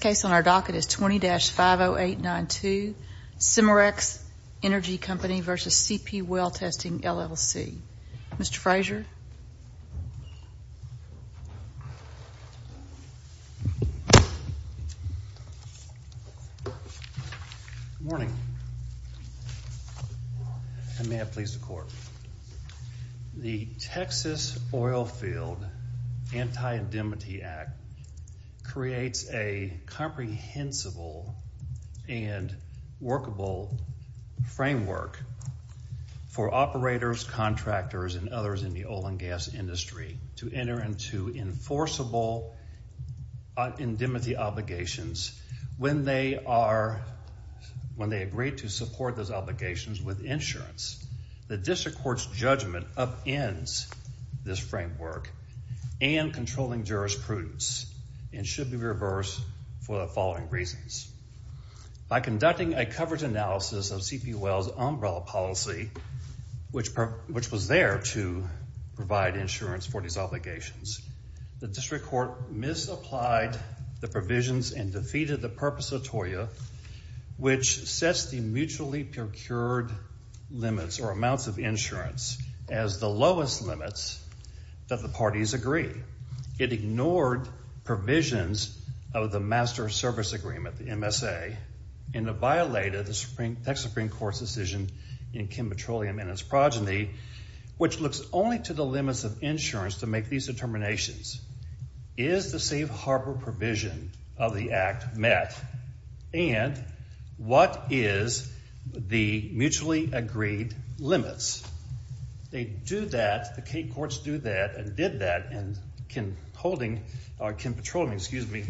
LLC. Mr. Fraser. Good morning. I may have pleased the court. The Texas Oil Field Anti-Indemnity Act, which creates a comprehensible and workable framework for operators, contractors, and others in the oil and gas industry to enter into enforceable indemnity obligations when they are, when they agree to support those obligations with insurance. The district court's judgment upends this framework and controlling jurisprudence and should be reversed for the following reasons. By conducting a coverage analysis of CP Well's umbrella policy, which was there to provide insurance for these obligations, the district court misapplied the provisions and defeated the Purpose Atollia, which sets the mutually procured limits or amounts of insurance as the lowest limits that the parties agree. It ignored provisions of the Master Service Agreement, the MSA, and it violated the Texas Supreme Court's decision in Kim Petroleum and its progeny, which looks only to the limits of insurance to make these determinations. Is the safe harbor provision of the act met? And what is the mutually agreed limits? They do that, the state courts do that and did that, and Kim Petroleum, excuse me,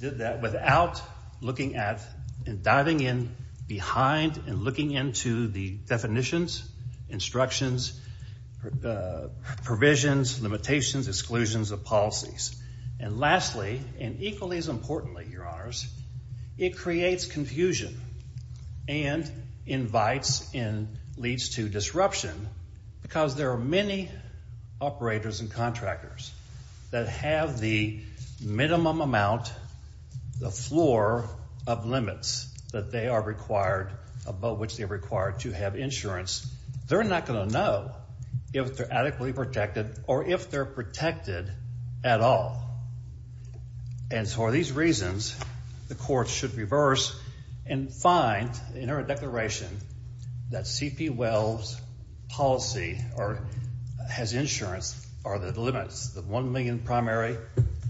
did that without looking at and diving in behind and looking into the definitions, instructions, provisions, limitations, exclusions of policies. And lastly, and equally as importantly, Your Disruption, because there are many operators and contractors that have the minimum amount, the floor of limits that they are required, above which they are required to have insurance, they're not going to know if they're adequately protected or if they're protected at all. And so for these reasons, the courts should reverse and find in their declaration that T.P. Wells' policy or his insurance are the limits, the $1 million primary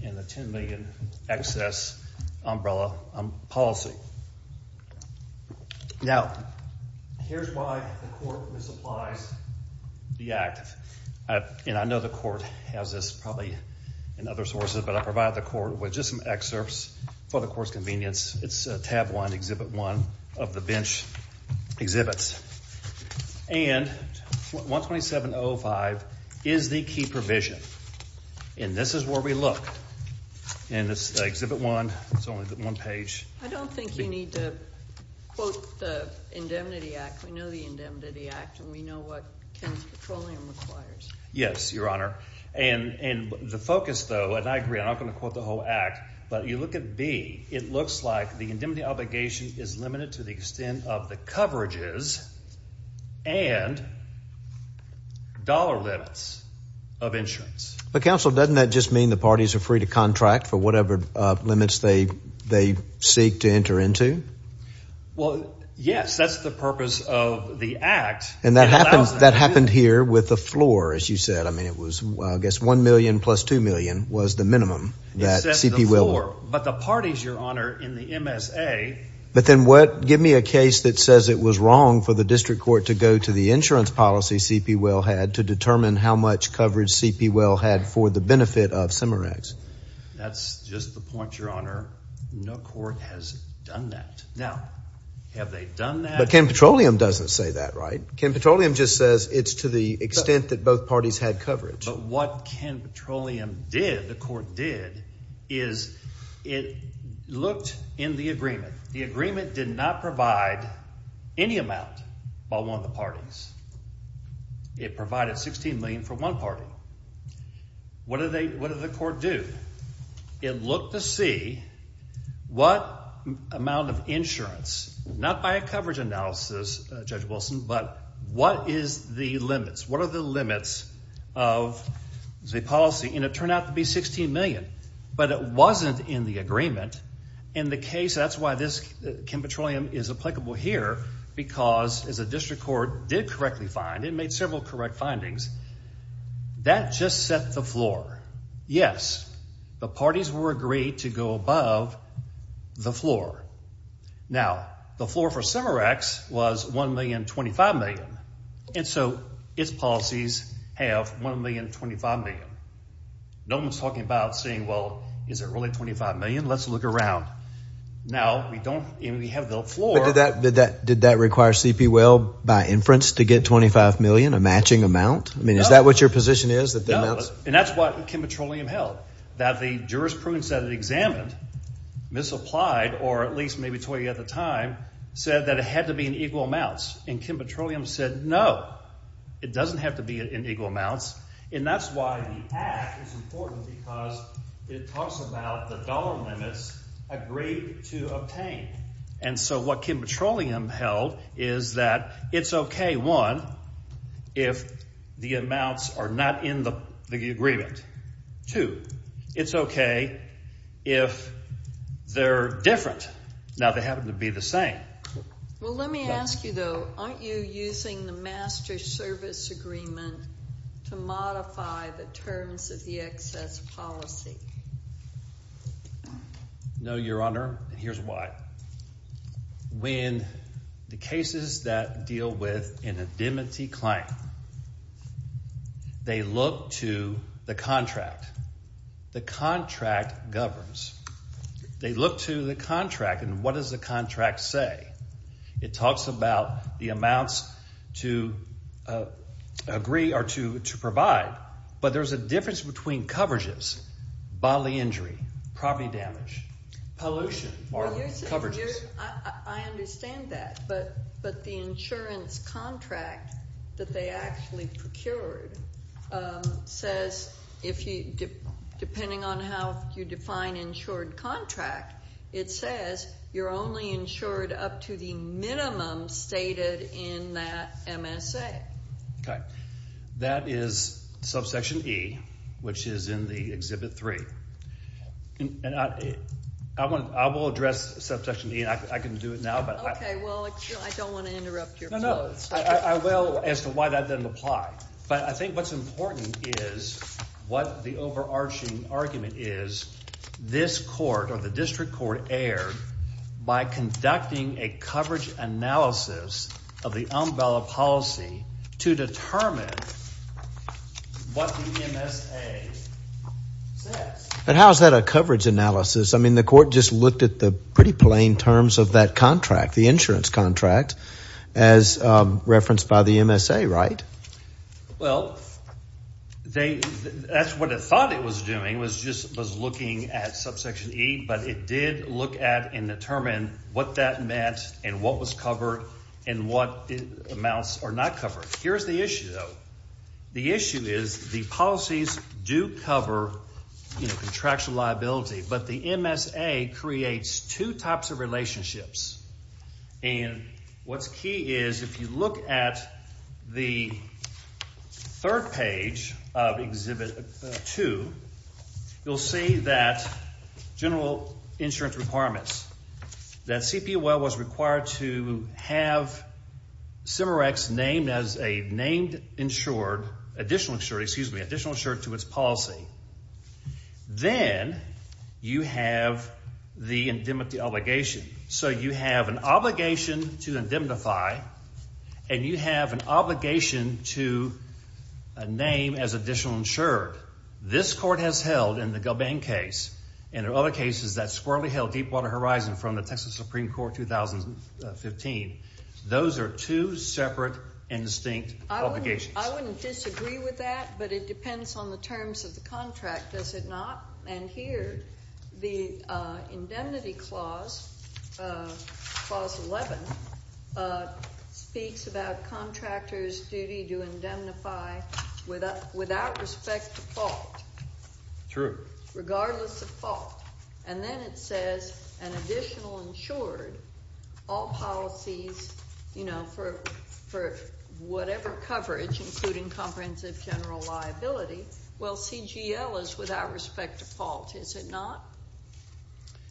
and the $10 million excess umbrella policy. Now, here's why the court misapplies the act. And I know the court has this probably in other sources, but I provide the court with just some excerpts for the court's convenience. It's tab one, exhibit one of the bench exhibits. And 127.05 is the key provision. And this is where we look. And it's exhibit one. It's only one page. I don't think you need to quote the Indemnity Act. We know the Indemnity Act and we know what Kim Petroleum requires. Yes, Your Honor. And the focus, though, and I agree, I'm not looks like the indemnity obligation is limited to the extent of the coverages and dollar limits of insurance. But counsel, doesn't that just mean the parties are free to contract for whatever limits they they seek to enter into? Well, yes, that's the purpose of the act. And that happens. That happened here with the floor, as you said. I mean, it was, I guess, one million plus two million was the minimum. It says the floor. But the parties, Your Honor, in the MSA. But then what? Give me a case that says it was wrong for the district court to go to the insurance policy CP Well had to determine how much coverage CP Well had for the benefit of Cimarrax. That's just the point, Your Honor. No court has done that. Now, have they done that? But Kim Petroleum doesn't say that, right? Kim Petroleum just says it's to the extent that both parties had coverage. But what Kim Petroleum did, the court did, is it looked in the agreement. The agreement did not provide any amount by one of the parties. It provided 16 million for one party. What did they, what did the court do? It looked to see what amount of insurance, not by a coverage analysis, Judge the limits. What are the limits of the policy? And it turned out to be 16 million. But it wasn't in the agreement. In the case, that's why this Kim Petroleum is applicable here, because, as a district court did correctly find, it made several correct findings. That just set the floor. Yes, the parties were agreed to go above the floor. Now, the floor for Cimarrax was 1,025,000,000. And so, its policies have 1,025,000,000. No one's talking about saying, well, is it really 25 million? Let's look around. Now, we don't, and we have the floor. But did that, did that, did that require C.P. Will, by inference, to get 25 million, a matching amount? I mean, is that what your position is, that the amounts? No. And that's what Kim Petroleum held, that the jurisprudence that it examined, misapplied, or at least maybe toyed at the time, said that it had to be in equal amounts. And Kim Petroleum said, no, it doesn't have to be in equal amounts. And that's why the act is important, because it talks about the dollar limits agreed to obtain. And so, what Kim Petroleum held is that it's okay, one, if the amounts are not in the agreement. Two, it's okay if they're different. Now, they happen to be the same. Well, let me ask you, though. Aren't you using the master service agreement to modify the terms of the excess policy? No, Your Honor. Here's why. When the cases that deal with an indemnity claim, they look to the contract. The contract governs. They look to the contract, and what does the contract say? It talks about the amounts to agree or to provide, but there's a difference between coverages, bodily injury, property damage, pollution, or coverages. I understand that, but the insurance contract that they actually procured says, depending on how you define insured contract, it says you're only insured up to the minimum stated in that MSA. Okay. That is subsection E, which is in the Exhibit 3. And I will address subsection E, and I can do it now. Okay. Well, I don't want to interrupt your proposal. No, no. I will as to why that doesn't apply. But I think what's important is what the overarching argument is, this court or the district court erred by conducting a coverage analysis of the umbrella policy to determine what the MSA says. But how is that a coverage analysis? I mean, the insurance contract, as referenced by the MSA, right? Well, that's what it thought it was doing, was looking at subsection E, but it did look at and determine what that meant and what was covered and what amounts are not covered. Here's the issue, though. The issue is the policies do cover contractual liability, but the MSA creates two types of relationships. And what's key is if you look at the third page of Exhibit 2, you'll see that general insurance requirements, that CPOL was required to have CIMERECS named as a named insured, additional insured, excuse me, additional insured to its policy. Then you have the indemnity obligation. So you have an obligation to indemnify and you have an obligation to name as additional insured. This court has held in the Gulbang case and there are other cases that squarely held Deepwater Horizon from the Texas Supreme Court 2015. Those are two separate and distinct obligations. I wouldn't disagree with that, but it depends on the terms of the contract, does it not? And here, the indemnity clause, clause 11, speaks about contractors' duty to indemnify without respect to fault. True. Regardless of fault. And then it says an additional insured, all policies, you know, for whatever coverage, including comprehensive general liability, well, CGL is without respect to fault, is it not?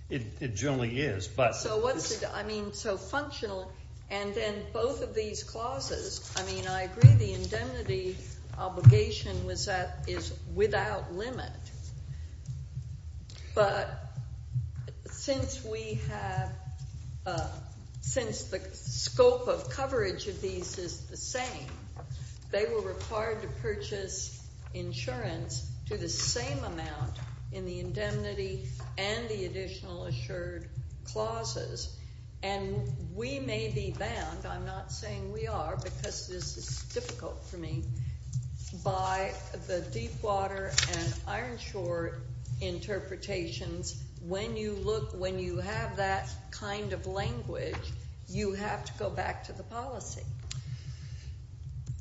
It generally is, but... So what's the, I mean, so functional, and then both of these clauses, I mean, I agree the indemnity obligation was that, is without limit. But since we have, since the scope of coverage of these is the same, they were required to purchase insurance to the same amount in the indemnity and the additional assured clauses. And we may be bound, I'm not saying we are, because this is difficult for me, by the Deepwater and language, you have to go back to the policy.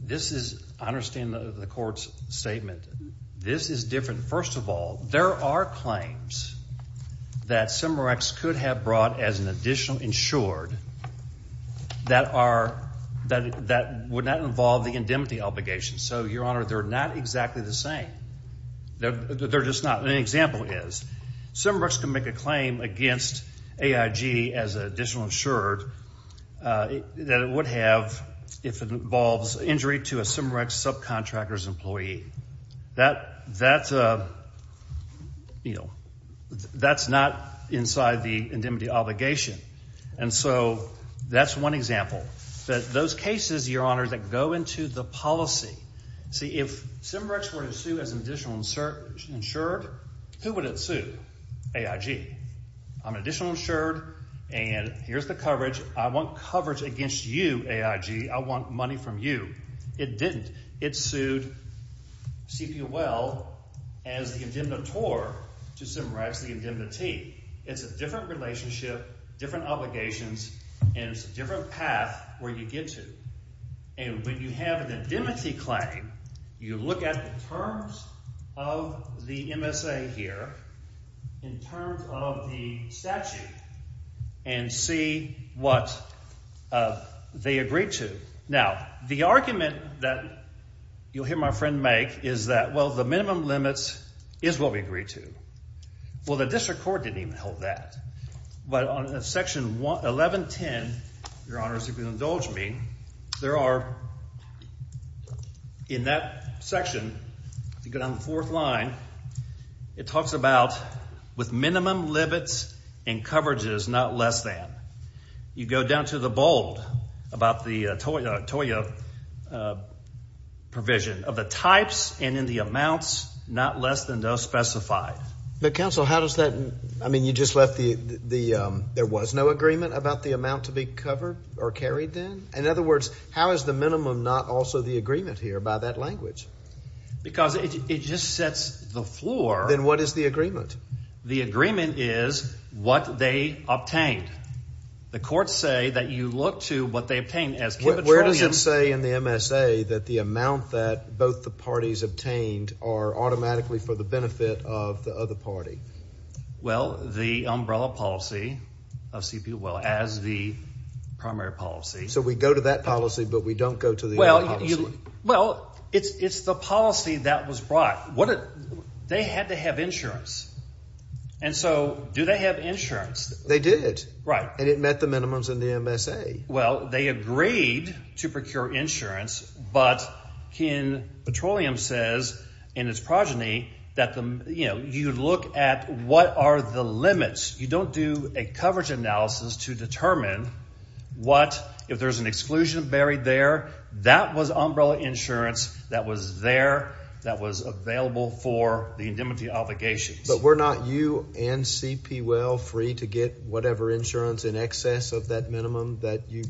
This is, I understand the court's statement. This is different. First of all, there are claims that Semerex could have brought as an additional insured that are, that would not involve the indemnity obligation. So, Your Honor, they're not exactly the same. They're just not. An example is, Semerex can make a claim against AIG as an additional insured that it would have if it involves injury to a Semerex subcontractor's employee. That's a, you know, that's not inside the indemnity obligation. And so, that's one example. Those cases, Your Honor, that go into the I'm an additional insured and here's the coverage. I want coverage against you, AIG. I want money from you. It didn't. It sued CPOL as the indemnitor to Semerex the indemnity. It's a different relationship, different obligations, and it's a different path where you get to. And when you have an indemnity claim, you look at the terms of the MSA here in terms of the statute and see what they agreed to. Now, the argument that you'll hear my friend make is that, well, the minimum limits is what we agreed to. Well, the district court didn't hold that. But on Section 1110, Your Honor, if you'll indulge me, there are, in that section, if you go down the fourth line, it talks about with minimum limits and coverages, not less than. You go down to the bold about the TOIA provision of the types and in the amounts, not less than those specified. But counsel, how does that? I mean, you just left the the there was no agreement about the amount to be covered or carried then. In other words, how is the minimum not also the agreement here by that language? Because it just sets the floor. Then what is the agreement? The agreement is what they obtained. The courts say that you look to what they obtained as where does it say in the MSA that the amount that both the parties obtained are automatically for the benefit of the other party? Well, the umbrella policy of CP well as the primary policy. So we go to that policy, but we don't go to the well. Well, it's it's the policy that was brought. What they had to have insurance. And so do they have insurance? They did. Right. And it met the minimums in the MSA. Well, they agreed to procure insurance. But Ken Petroleum says in its progeny that, you know, you look at what are the limits. You don't do a coverage analysis to determine what if there's an exclusion buried there. That was umbrella insurance that was there that was available for the indemnity obligations. But we're not you and CP well free to get whatever insurance in excess of that minimum that you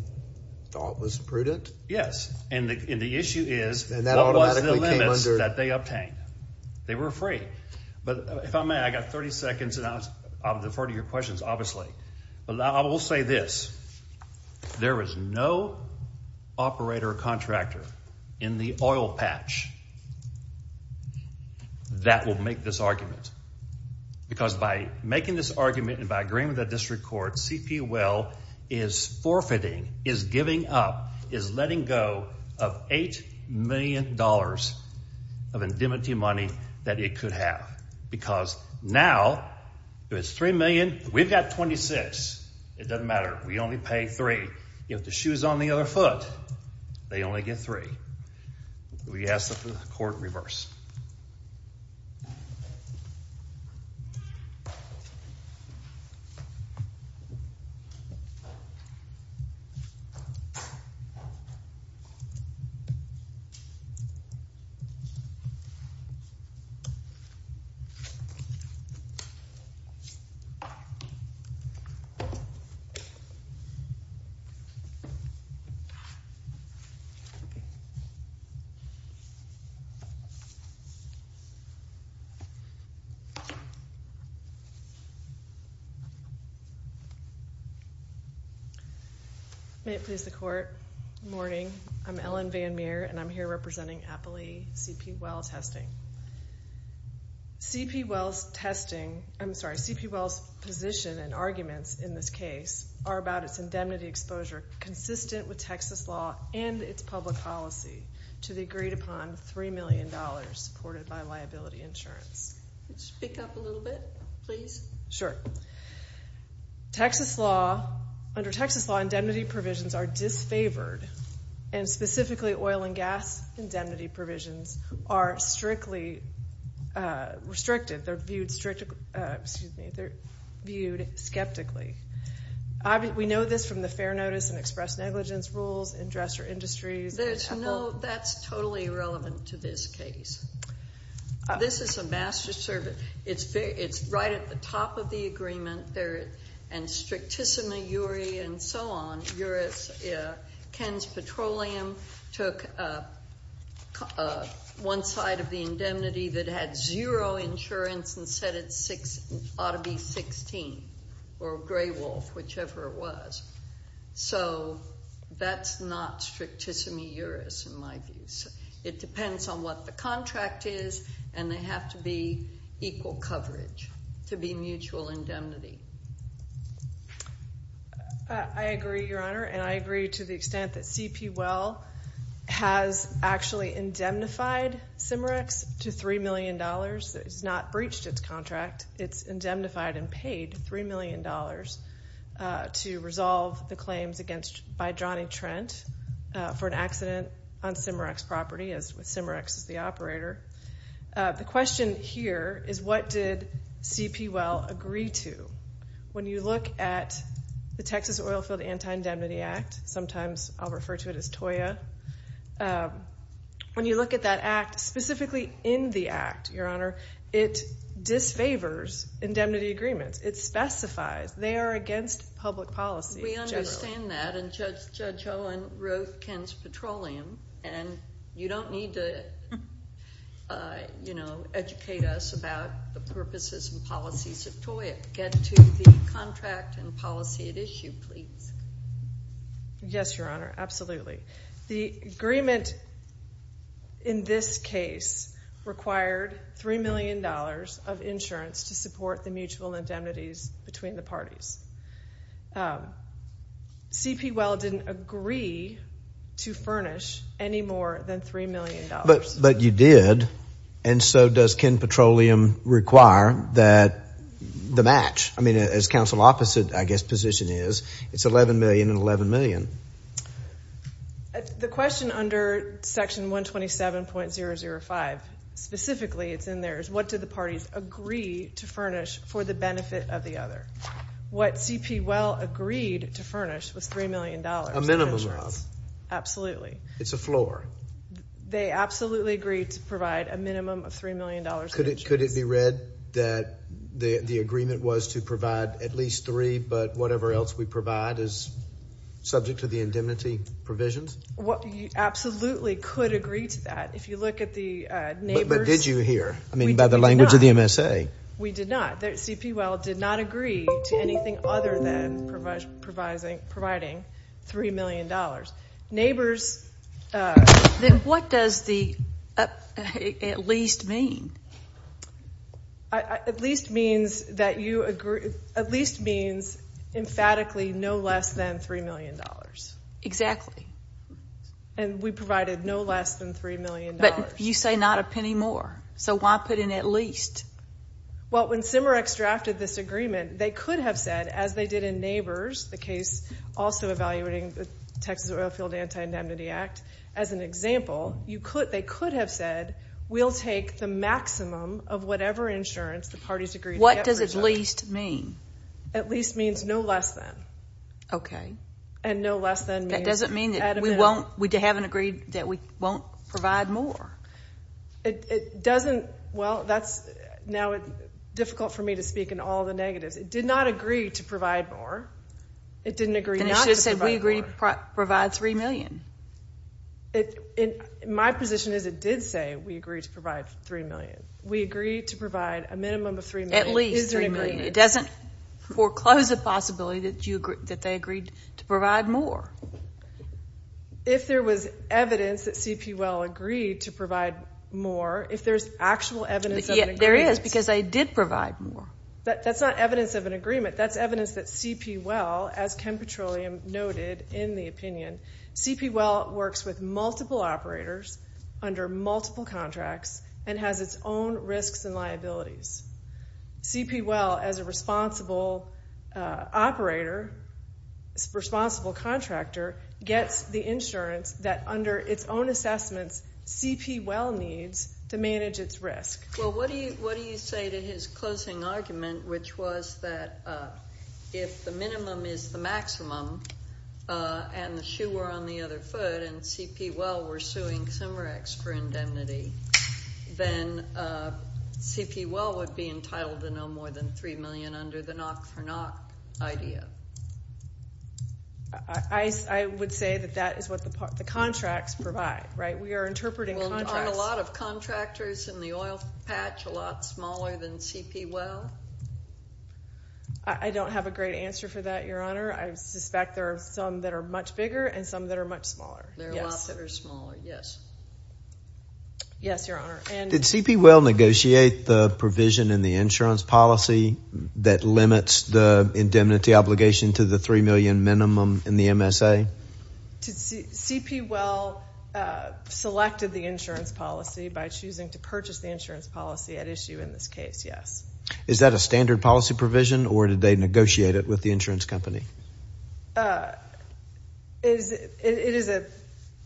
thought was prudent. Yes. And the issue is that they obtained. They were free. But if I may, I got 30 seconds and I'll defer to your questions, obviously. But I will say this. There is no operator or contractor in the oil patch that will make this argument because by making this argument and by agreeing with the district court, CP well is forfeiting, is giving up, is letting go of eight million dollars of indemnity money that it could have because now it's three million. We've got 26. It doesn't matter. We only pay three. If the shoes on the other foot, they only May it please the court. Good morning. I'm Ellen Van Meer and I'm here representing Appley CP well testing. CP wells testing, I'm sorry, CP wells position and arguments in this case are about its indemnity exposure consistent with Texas law and its public policy to the agreed upon three million dollars supported by liability insurance. Speak up a little bit, please. Sure. Texas law, under Texas law, indemnity provisions are disfavored and specifically oil and gas indemnity provisions are strictly restricted. They're viewed skeptically. We know this from the fair notice and express negligence rules in dresser industries. That's totally irrelevant to this case. This is a master servant. It's very, it's right at the top of the agreement there and strict Tissima Uri and so on. Uri's, uh, Ken's petroleum took, uh, uh, one side of the indemnity that had zero insurance and said it's six ought or gray wolf, whichever it was. So that's not strict Tissima Uri's in my views. It depends on what the contract is and they have to be equal coverage to be mutual indemnity. Uh, I agree, your honor, and I agree to the extent that CP well has actually indemnified Cimerex to $3 million. It's not breached its contract. It's indemnified and paid $3 million, uh, to resolve the claims against, by Johnny Trent, uh, for an accident on Cimerex property as with Cimerex as the operator. Uh, the question here is what did CP well agree to? When you look at the Texas Oilfield Anti-Indemnity Act, sometimes I'll refer to it as TOIA. Um, when you look at that act specifically in the act, your honor, it disfavors indemnity agreements. It specifies they are against public policy. We understand that and Judge Owen wrote Ken's petroleum and you don't need to, uh, you know, educate us about the purposes and policies of TOIA. Get to the contract and policy at issue, please. Yes, your honor. Absolutely. The agreement in this case required $3 million of insurance to support the mutual indemnities between the parties. Um, CP well didn't agree to furnish any more than $3 million. But, but you did and so does Ken Petroleum require that the match, I mean, as council opposite, I guess, position is, it's 11 million and 11 million. The question under section 127.005 specifically, it's in there, is what did the parties agree to furnish for the benefit of the other? What CP well agreed to furnish was $3 million of insurance. A minimum of. Absolutely. It's a floor. They absolutely agreed to provide a minimum of $3 million of insurance. Could it be read that the agreement was to provide at least three, but whatever else we provide is subject to the indemnity provisions? You absolutely could agree to that. If you look at the neighbors. But did you hear? I mean, by the language of the MSA. We did not. CP well did not agree to anything other than providing $3 million. Neighbors. Then what does the at least mean? At least means that you agree. At least means emphatically no less than $3 million. Exactly. And we provided no less than $3 million. But you say not a penny more. So why put in at least? Well, when CIMREX drafted this agreement, they could have said, as they did in neighbors, the case also evaluating the Texas Oilfield Anti-Indemnity Act. As an example, they could have said, we'll take the maximum of whatever insurance the parties agreed to get. What does at least mean? At least means no less than. Okay. And no less than means. That doesn't mean that we haven't agreed that we won't provide more. It doesn't. Well, now it's difficult for me to speak in all the negatives. It did not agree to provide more. It didn't agree not to provide more. Then it should have said, we agree to provide $3 million. My position is it did say, we agree to provide $3 million. We agree to provide a minimum of $3 million. At least $3 million. It doesn't foreclose the possibility that they agreed to provide more. If there was evidence that CP Well agreed to provide more, if there's actual evidence of an agreement. There is, because they did provide more. That's not evidence of an agreement. That's evidence that CP Well, as Ken Petroleum noted in the opinion, CP Well works with multiple operators under multiple contracts and has its own risks and liabilities. CP Well, as a responsible operator, responsible contractor, gets the insurance that under its own assessments, CP Well needs to manage its risk. Well, what do you say to his closing argument, which was that if the minimum is the maximum and the shoe were on the other foot and CP Well were suing Cimerex for indemnity, then CP Well would be entitled to no more than $3 million under the knock-for-knock idea. I would say that that is what the contracts provide, right? We are interpreting contracts. Well, aren't a lot of contractors in the oil patch a lot smaller than CP Well? I don't have a great answer for that, Your Honor. I suspect there are some that are much bigger and some that are much smaller. There are lots that are smaller, yes. Yes, Your Honor. Did CP Well negotiate the provision in the insurance policy that limits the indemnity obligation to the $3 million minimum in the MSA? CP Well selected the insurance policy by choosing to purchase the insurance policy at issue in this case, yes. Is that a standard policy provision, or did they negotiate it with the insurance company? It is a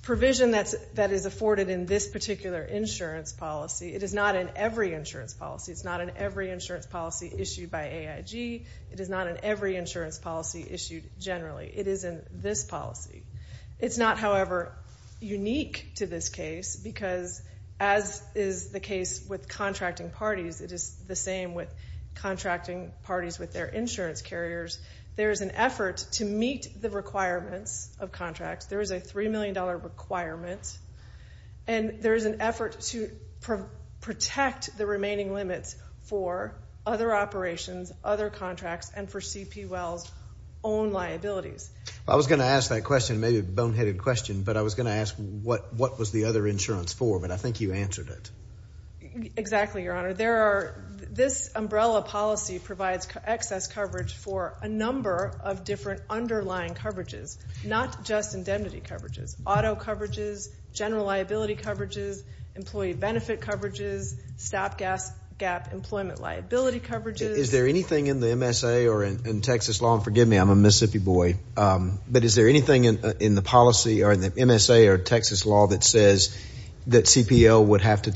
provision that is afforded in this particular insurance policy. It is not in every insurance policy. It's not in every insurance policy issued by AIG. It is not in every insurance policy issued generally. It is in this policy. It's not, however, unique to this case because, as is the case with contracting parties, it is the same with contracting parties with their insurance carriers. There is an effort to meet the requirements of contracts. There is a $3 million requirement, and there is an effort to protect the remaining limits for other operations, other contracts, and for CP Well's own liabilities. I was going to ask that question, maybe a boneheaded question, but I was going to ask what was the other insurance for, but I think you answered it. Exactly, Your Honor. This umbrella policy provides excess coverage for a number of different underlying coverages, not just indemnity coverages, auto coverages, general liability coverages, employee benefit coverages, stopgap employment liability coverages. Is there anything in the MSA or in Texas law, and forgive me, I'm a Mississippi boy, but is there anything in the policy or in the MSA or Texas law that says that CP Well would have to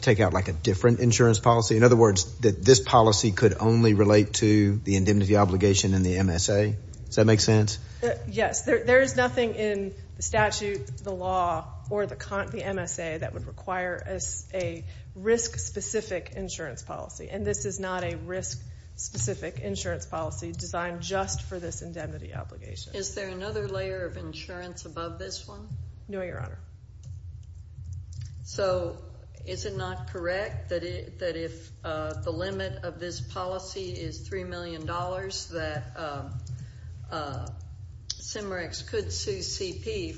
take out like a different insurance policy? In other words, that this policy could only relate to the indemnity obligation in the MSA? Does that make sense? Yes. There is nothing in the statute, the law, or the MSA that would require a risk-specific insurance policy, and this is not a risk-specific insurance policy designed just for this indemnity obligation. Is there another layer of insurance above this one? No, Your Honor. So is it not correct that if the limit of this policy is $3 million, that CIMREX could sue CP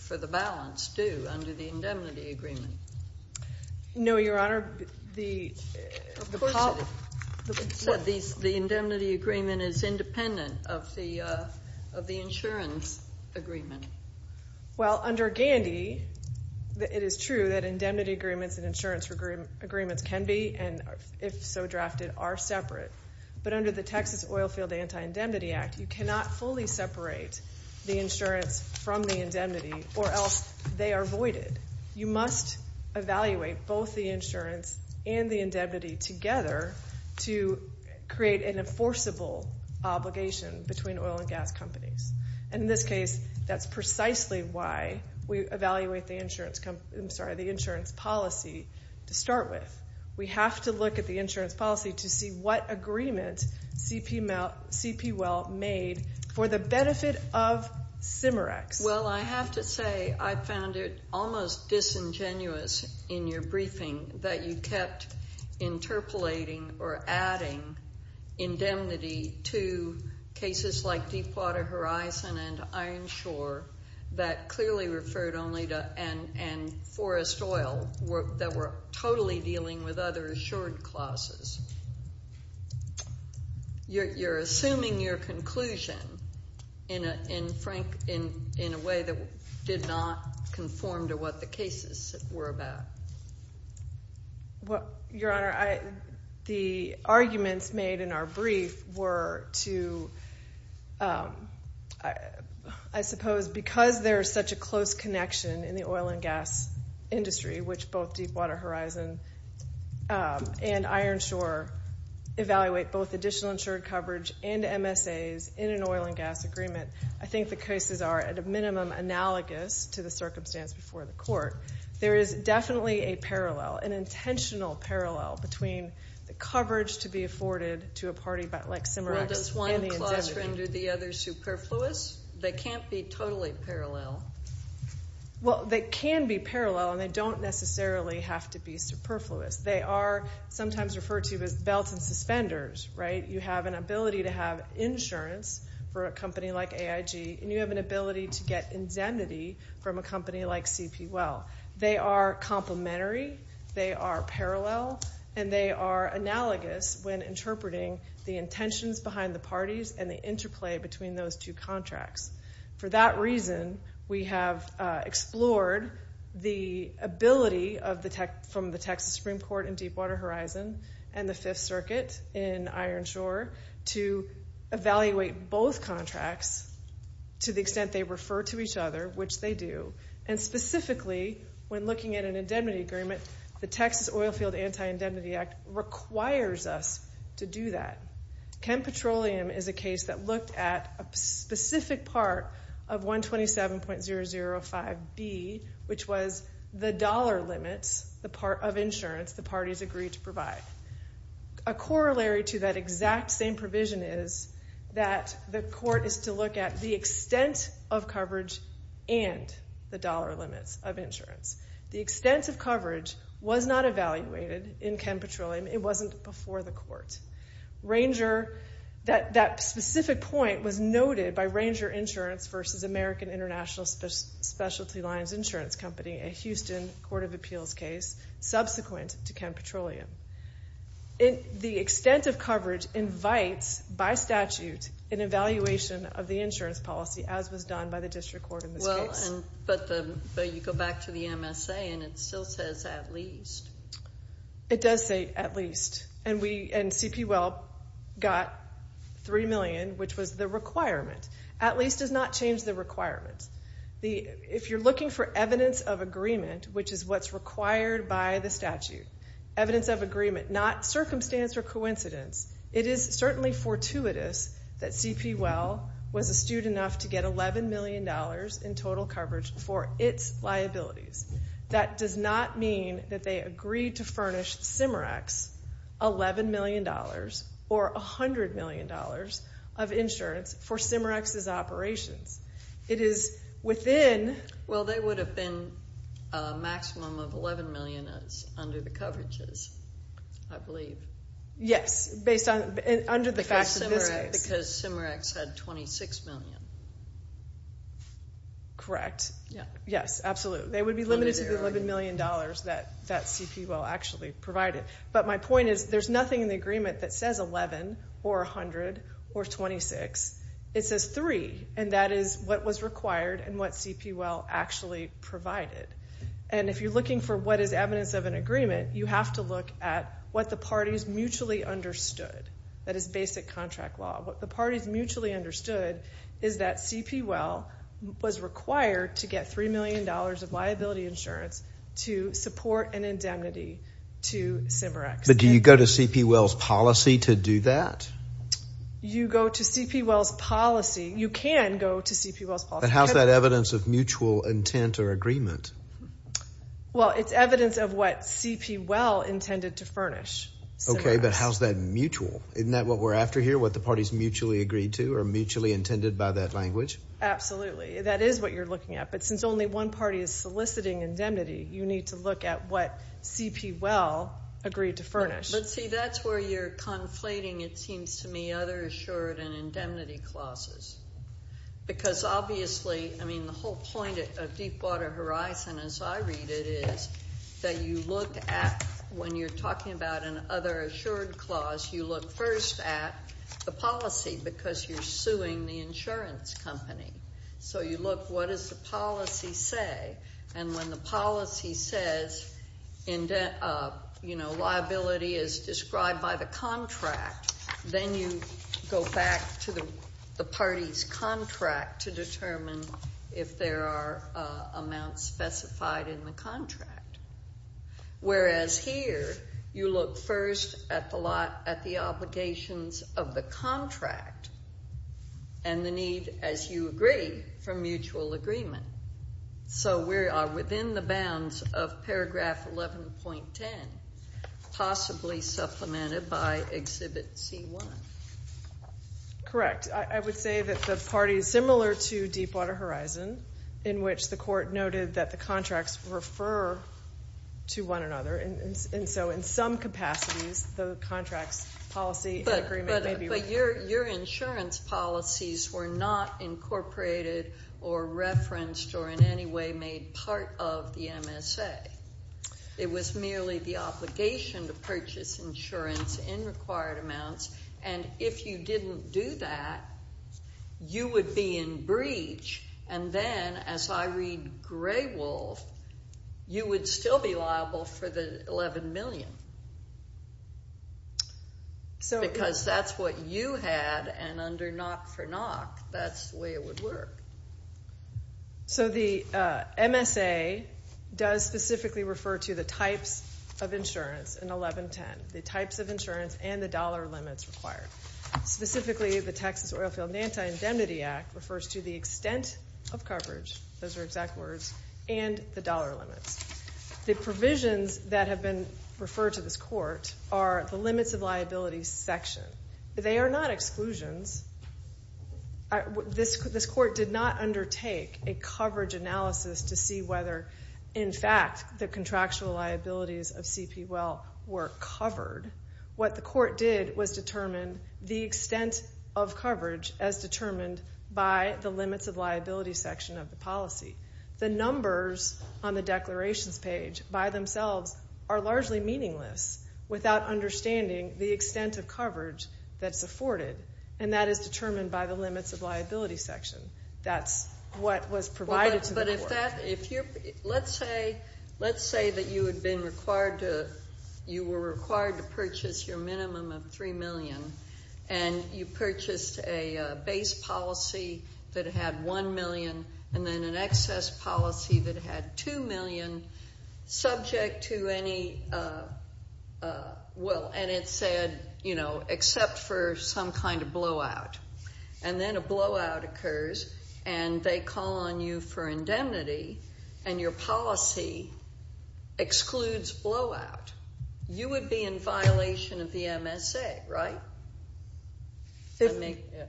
for the balance due under the indemnity agreement? No, Your Honor. The indemnity agreement is independent of the insurance agreement. Well, under Gandy, it is true that indemnity agreements and insurance agreements can be, and if so drafted, are separate, but under the Texas Oilfield Anti-Indemnity Act, you cannot fully separate the insurance from the indemnity or else they are voided. You must evaluate both the insurance and the indemnity together to create an enforceable obligation between oil and gas companies. And in this case, that's precisely why we evaluate the insurance policy to start with. We have to look at the insurance policy to see what agreement CP Well made for the benefit of CIMREX. Well, I have to say I found it almost disingenuous in your briefing that you kept interpolating or adding indemnity to cases like Deepwater Horizon and Ironshore that clearly referred only to and forest oil that were totally dealing with other assured clauses. You're assuming your conclusion in a way that did not conform to what the cases were about. Well, Your Honor, the arguments made in our brief were to, I suppose, because there is such a close connection in the oil and gas industry, which both Deepwater Horizon and Ironshore evaluate both additional insured coverage and MSAs in an oil and gas agreement. I think the cases are, at a minimum, analogous to the circumstance before the court. There is definitely a parallel, an intentional parallel, between the coverage to be afforded to a party like CIMREX and the indemnity. Well, does one clause render the other superfluous? They can't be totally parallel. Well, they can be parallel, and they don't necessarily have to be superfluous. They are sometimes referred to as belts and suspenders, right? You have an ability to have insurance for a company like AIG, and you have an ability to get indemnity from a company like CP Well. They are complementary, they are parallel, and they are analogous when interpreting the intentions behind the parties and the interplay between those two contracts. For that reason, we have explored the ability from the Texas Supreme Court in Deepwater Horizon and the Fifth Circuit in Ironshore to evaluate both contracts to the extent they refer to each other, which they do. And specifically, when looking at an indemnity agreement, the Texas Oilfield Anti-Indemnity Act requires us to do that. Chem Petroleum is a case that looked at a specific part of 127.005B, which was the dollar limits, the part of insurance the parties agreed to provide. A corollary to that exact same provision is that the court is to look at the extent of coverage and the dollar limits of insurance. The extent of coverage was not evaluated in Chem Petroleum. It wasn't before the court. That specific point was noted by Ranger Insurance versus American International Specialty Lines Insurance Company, a Houston court of appeals case subsequent to Chem Petroleum. The extent of coverage invites, by statute, an evaluation of the insurance policy, as was done by the district court in this case. But you go back to the MSA, and it still says at least. It does say at least. And CP Well got $3 million, which was the requirement. At least does not change the requirement. If you're looking for evidence of agreement, which is what's required by the statute, evidence of agreement, not circumstance or coincidence, it is certainly fortuitous that CP Well was astute enough to get $11 million in total coverage for its liabilities. That does not mean that they agreed to furnish Cimerex $11 million or $100 million of insurance for Cimerex's operations. It is within. Well, they would have been a maximum of $11 million under the coverages, I believe. Yes, under the facts of this case. Because Cimerex had $26 million. Correct. Yes, absolutely. They would be limited to the $11 million that CP Well actually provided. But my point is there's nothing in the agreement that says 11 or 100 or 26. It says 3, and that is what was required and what CP Well actually provided. And if you're looking for what is evidence of an agreement, you have to look at what the parties mutually understood. That is basic contract law. What the parties mutually understood is that CP Well was required to get $3 million of liability insurance to support an indemnity to Cimerex. But do you go to CP Well's policy to do that? You go to CP Well's policy. You can go to CP Well's policy. But how is that evidence of mutual intent or agreement? Well, it's evidence of what CP Well intended to furnish Cimerex. Okay, but how is that mutual? Isn't that what we're after here, what the parties mutually agreed to or mutually intended by that language? Absolutely. That is what you're looking at. But since only one party is soliciting indemnity, you need to look at what CP Well agreed to furnish. Let's see, that's where you're conflating, it seems to me, other assured and indemnity clauses. Because obviously, I mean, the whole point of Deepwater Horizon, as I read it, is that you look at when you're talking about an other assured clause, you look first at the policy because you're suing the insurance company. So you look, what does the policy say? And when the policy says, you know, liability is described by the contract, then you go back to the party's contract to determine if there are amounts specified in the contract. Whereas here, you look first at the obligations of the contract and the need, as you agree, for mutual agreement. So we are within the bounds of paragraph 11.10, possibly supplemented by Exhibit C1. Correct. I would say that the party is similar to Deepwater Horizon, in which the court noted that the contracts refer to one another. And so in some capacities, the contracts policy agreement may be. But your insurance policies were not incorporated or referenced or in any way made part of the MSA. It was merely the obligation to purchase insurance in required amounts. And if you didn't do that, you would be in breach and then, as I read Graywolf, you would still be liable for the $11 million. Because that's what you had, and under NOC for NOC, that's the way it would work. So the MSA does specifically refer to the types of insurance in 11.10, the types of insurance and the dollar limits required. Specifically, the Texas Oilfield Anti-Indemnity Act refers to the extent of coverage, those are exact words, and the dollar limits. The provisions that have been referred to this court are the limits of liability section. They are not exclusions. This court did not undertake a coverage analysis to see whether, in fact, the contractual liabilities of CP Well were covered. What the court did was determine the extent of coverage as determined by the limits of liability section of the policy. The numbers on the declarations page by themselves are largely meaningless without understanding the extent of coverage that's afforded, and that is determined by the limits of liability section. That's what was provided to the court. Let's say that you were required to purchase your minimum of $3 million, and you purchased a base policy that had $1 million and then an excess policy that had $2 million subject to any, well, and it said, you know, except for some kind of blowout. And then a blowout occurs, and they call on you for indemnity, and your policy excludes blowout. You would be in violation of the MSA, right?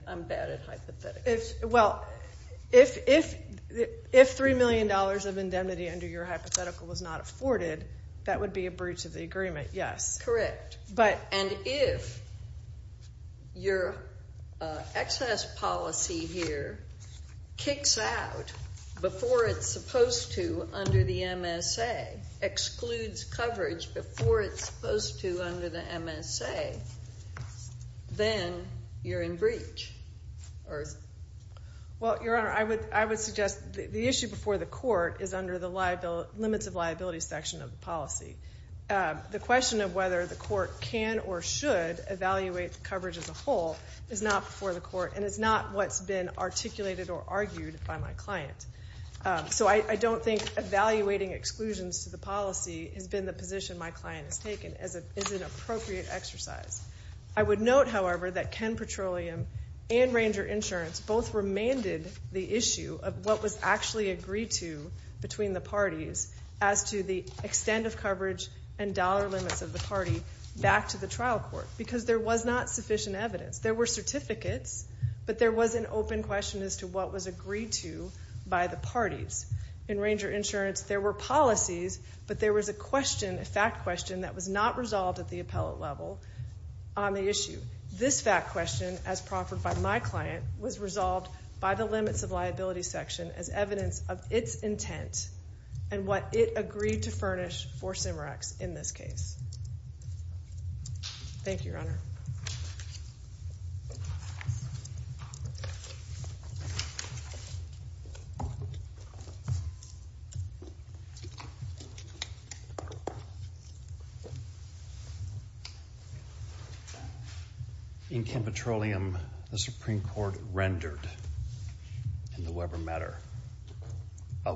I'm bad at hypotheticals. Well, if $3 million of indemnity under your hypothetical was not afforded, that would be a breach of the agreement, yes. Correct. And if your excess policy here kicks out before it's supposed to under the MSA, excludes coverage before it's supposed to under the MSA, then you're in breach. Well, Your Honor, I would suggest the issue before the court is under the limits of liability section of the policy. The question of whether the court can or should evaluate the coverage as a whole is not before the court, and it's not what's been articulated or argued by my client. So I don't think evaluating exclusions to the policy has been the position my client has taken as an appropriate exercise. I would note, however, that Ken Petroleum and Ranger Insurance both remanded the issue of what was actually agreed to between the parties as to the extent of coverage and dollar limits of the party back to the trial court because there was not sufficient evidence. There were certificates, but there was an open question as to what was agreed to by the parties. In Ranger Insurance, there were policies, but there was a question, a fact question that was not resolved at the appellate level on the issue. This fact question, as proffered by my client, was resolved by the limits of liability section as evidence of its intent and what it agreed to furnish for CIMRACs in this case. Thank you, Your Honor. In Ken Petroleum, the Supreme Court rendered, in the Weber matter,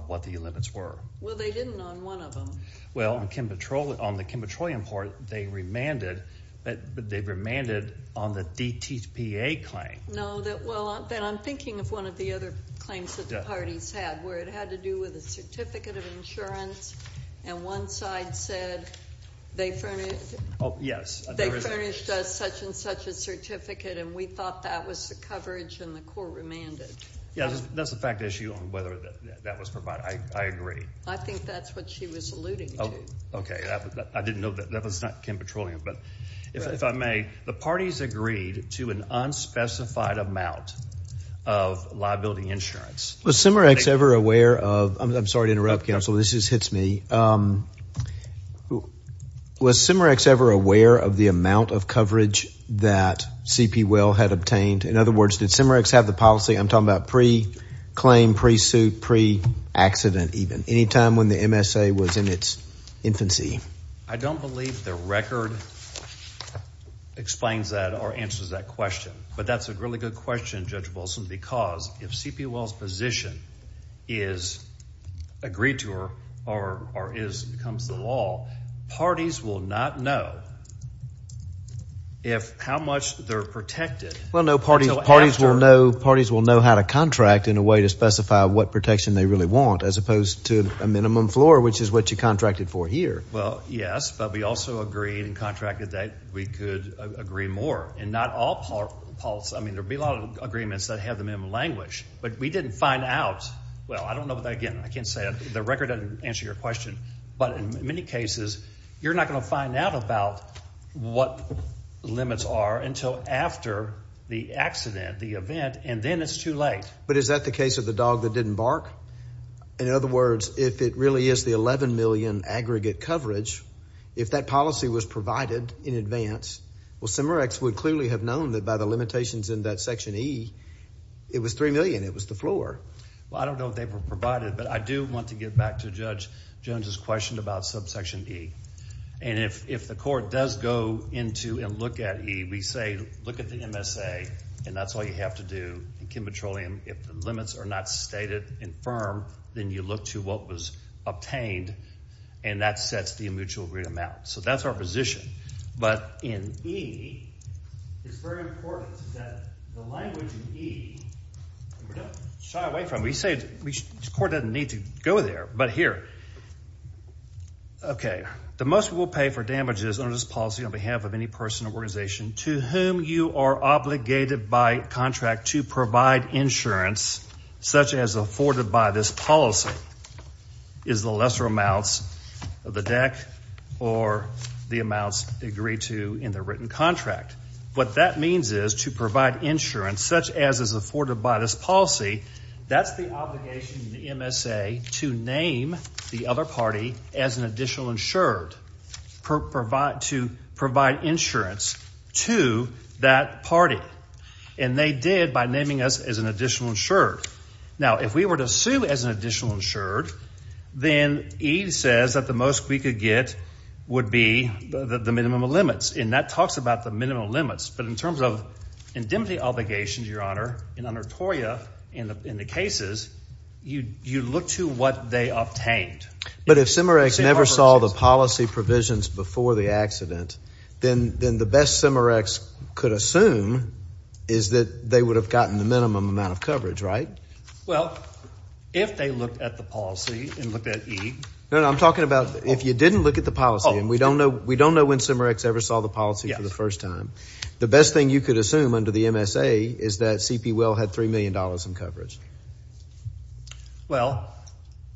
what the limits were. Well, they didn't on one of them. Well, on the Ken Petroleum part, they remanded, but they remanded on the DTPA claim. No, well, then I'm thinking of one of the other claims that the parties had where it had to do with a certificate of insurance, and one side said they furnished us such and such a certificate, and we thought that was the coverage, and the court remanded. Yeah, that's the fact issue on whether that was provided. I agree. I think that's what she was alluding to. Okay. I didn't know that. That was not Ken Petroleum, but if I may, the parties agreed to an unspecified amount of liability insurance. Was CIMRACs ever aware of, I'm sorry to interrupt, Counsel. This just hits me. Was CIMRACs ever aware of the amount of coverage that CP Well had obtained? In other words, did CIMRACs have the policy, I'm talking about pre-claim, pre-suit, pre-accident even, any time when the MSA was in its infancy? I don't believe the record explains that or answers that question, but that's a really good question, Judge Wilson, because if CP Well's position is agreed to or becomes the law, Well, no, parties will know how to contract in a way to specify what protection they really want as opposed to a minimum floor, which is what you contracted for here. Well, yes, but we also agreed and contracted that we could agree more, and not all policies. I mean, there would be a lot of agreements that have the minimum language, but we didn't find out. Well, I don't know, again, I can't say that. The record doesn't answer your question, but in many cases you're not going to find out about what the limits are until after the accident, the event, and then it's too late. But is that the case of the dog that didn't bark? In other words, if it really is the $11 million aggregate coverage, if that policy was provided in advance, well, CMRX would clearly have known that by the limitations in that section E, it was $3 million, it was the floor. Well, I don't know if they were provided, but I do want to get back to Judge Jones's question about subsection E. And if the court does go into and look at E, we say look at the MSA, and that's all you have to do in Kim Petroleum. If the limits are not stated and firm, then you look to what was obtained, and that sets the mutual agreement out. So that's our position. But in E, it's very important that the language in E, we don't shy away from it. The court doesn't need to go there. But here, okay. The most we'll pay for damages under this policy on behalf of any person or organization to whom you are obligated by contract to provide insurance such as afforded by this policy is the lesser amounts of the deck or the amounts agreed to in the written contract. What that means is to provide insurance such as is afforded by this policy, that's the obligation in the MSA to name the other party as an additional insured to provide insurance to that party. And they did by naming us as an additional insured. Now, if we were to sue as an additional insured, then E says that the most we could get would be the minimum of limits, and that talks about the minimum of limits. But in terms of indemnity obligations, Your Honor, in the cases, you look to what they obtained. But if CIMMEREX never saw the policy provisions before the accident, then the best CIMMEREX could assume is that they would have gotten the minimum amount of coverage, right? Well, if they looked at the policy and looked at E. No, no, I'm talking about if you didn't look at the policy, and we don't know when CIMMEREX ever saw the policy for the first time, the best thing you could assume under the MSA is that C.P. Will had $3 million in coverage. Well,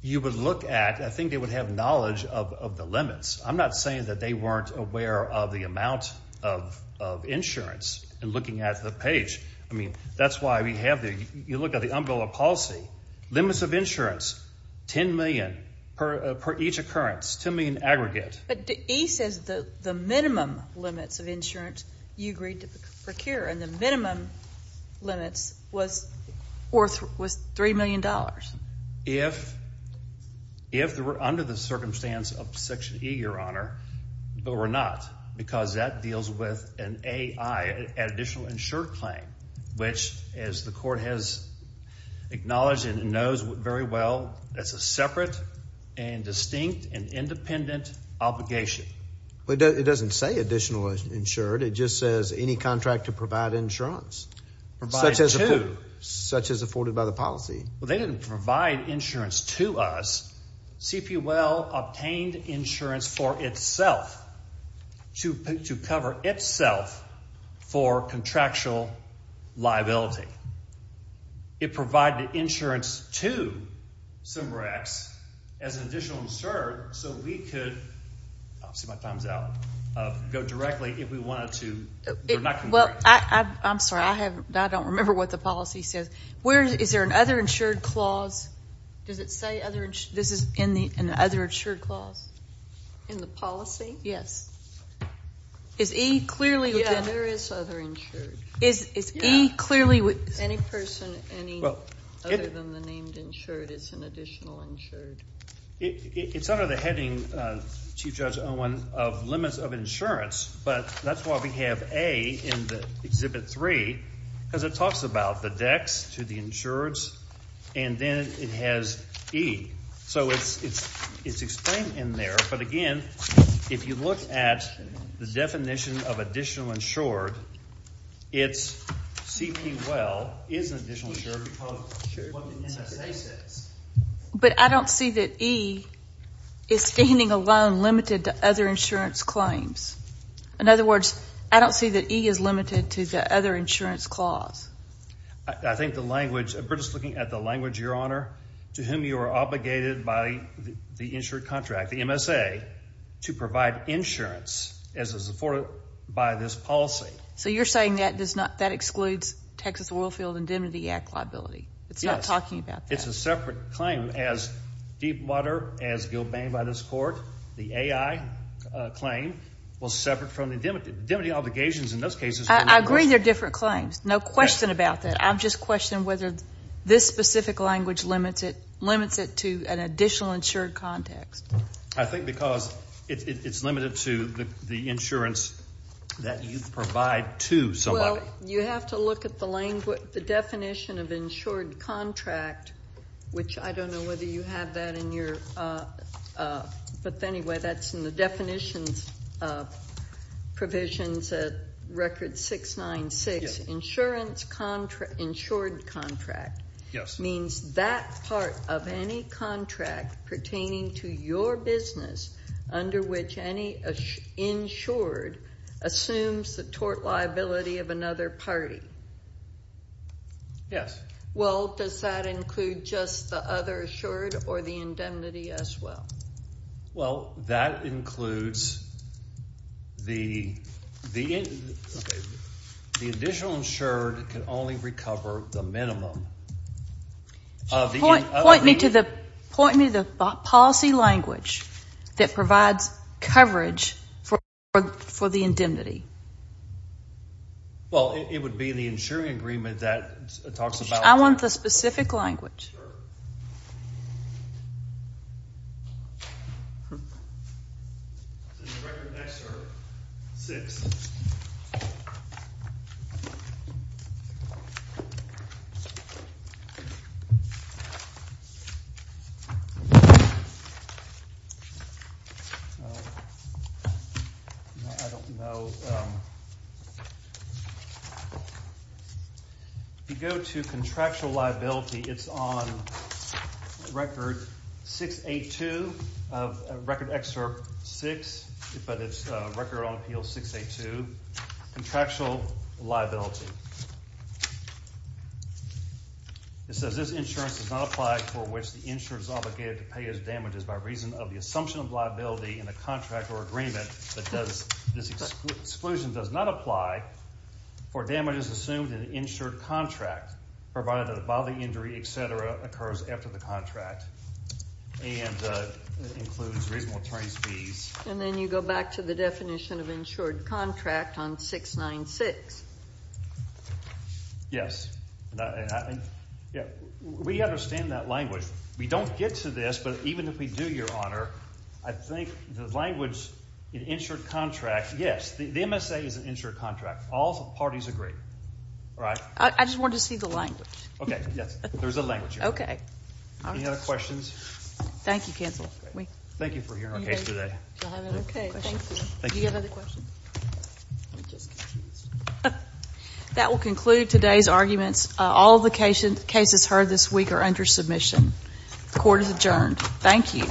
you would look at, I think they would have knowledge of the limits. I'm not saying that they weren't aware of the amount of insurance in looking at the page. I mean, that's why we have the, you look at the umbrella policy, limits of insurance, 10 million per each occurrence, 10 million aggregate. But E says the minimum limits of insurance you agreed to procure, and the minimum limits was $3 million. If they were under the circumstance of Section E, Your Honor, but were not, because that deals with an A.I., additional insured claim, which, as the court has acknowledged and knows very well, that's a separate and distinct and independent obligation. It doesn't say additional insured. It just says any contract to provide insurance. Such as afforded by the policy. Well, they didn't provide insurance to us. C.P. Will obtained insurance for itself to cover itself for contractual liability. It provided insurance to CIMBRAX as an additional insurer so we could, see my time's out, go directly if we wanted to. Well, I'm sorry, I don't remember what the policy says. Is there an other insured clause? Does it say other, this is in the other insured clause? In the policy? Yes. Yeah, there is other insured. Is E clearly? Any person other than the named insured is an additional insured. It's under the heading, Chief Judge Owen, of limits of insurance, but that's why we have A in the Exhibit 3, because it talks about the dex to the insureds, and then it has E. So it's explained in there, but again, if you look at the definition of additional insured, it's C.P. Will is an additional insured because of what the MSA says. But I don't see that E is standing alone limited to other insurance claims. In other words, I don't see that E is limited to the other insurance clause. I think the language, we're just looking at the language, Your Honor, to whom you are obligated by the insured contract, the MSA, to provide insurance as is afforded by this policy. So you're saying that excludes Texas Oilfield Indemnity Act liability. Yes. It's not talking about that. It's a separate claim as Deepwater, as gilbanged by this court, the AI claim was separate from the indemnity obligations in those cases. I agree they're different claims. No question about that. I'm just questioning whether this specific language limits it to an additional insured context. I think because it's limited to the insurance that you provide to somebody. Well, you have to look at the definition of insured contract, which I don't know whether you have that in your ‑‑ Yes. Means that part of any contract pertaining to your business under which any insured assumes the tort liability of another party. Yes. Well, does that include just the other assured or the indemnity as well? Well, that includes the additional insured can only recover the minimum. Point me to the policy language that provides coverage for the indemnity. Well, it would be the insuring agreement that talks about that. I want the specific language. Yes, sir. Is this record next, sir? Six. I don't know. If you go to contractual liability, it's on record 682, record excerpt 6, but it's record on appeal 682, contractual liability. It says this insurance is not applied for which the insurer is obligated to pay his damages by reason of the assumption of liability in a contract or agreement that this exclusion does not apply for damages assumed in an insured contract provided that a bodily injury, et cetera, occurs after the contract and includes reasonable attorney's fees. And then you go back to the definition of insured contract on 696. Yes. We understand that language. We don't get to this, but even if we do, Your Honor, I think the language in insured contract, yes, the MSA is an insured contract. All the parties agree. All right? I just wanted to see the language. Okay. Yes. There's a language here. Okay. Any other questions? Thank you, counsel. Thank you for hearing our case today. Okay. Thank you. That will conclude today's arguments. All the cases heard this week are under submission. The court is adjourned. Thank you.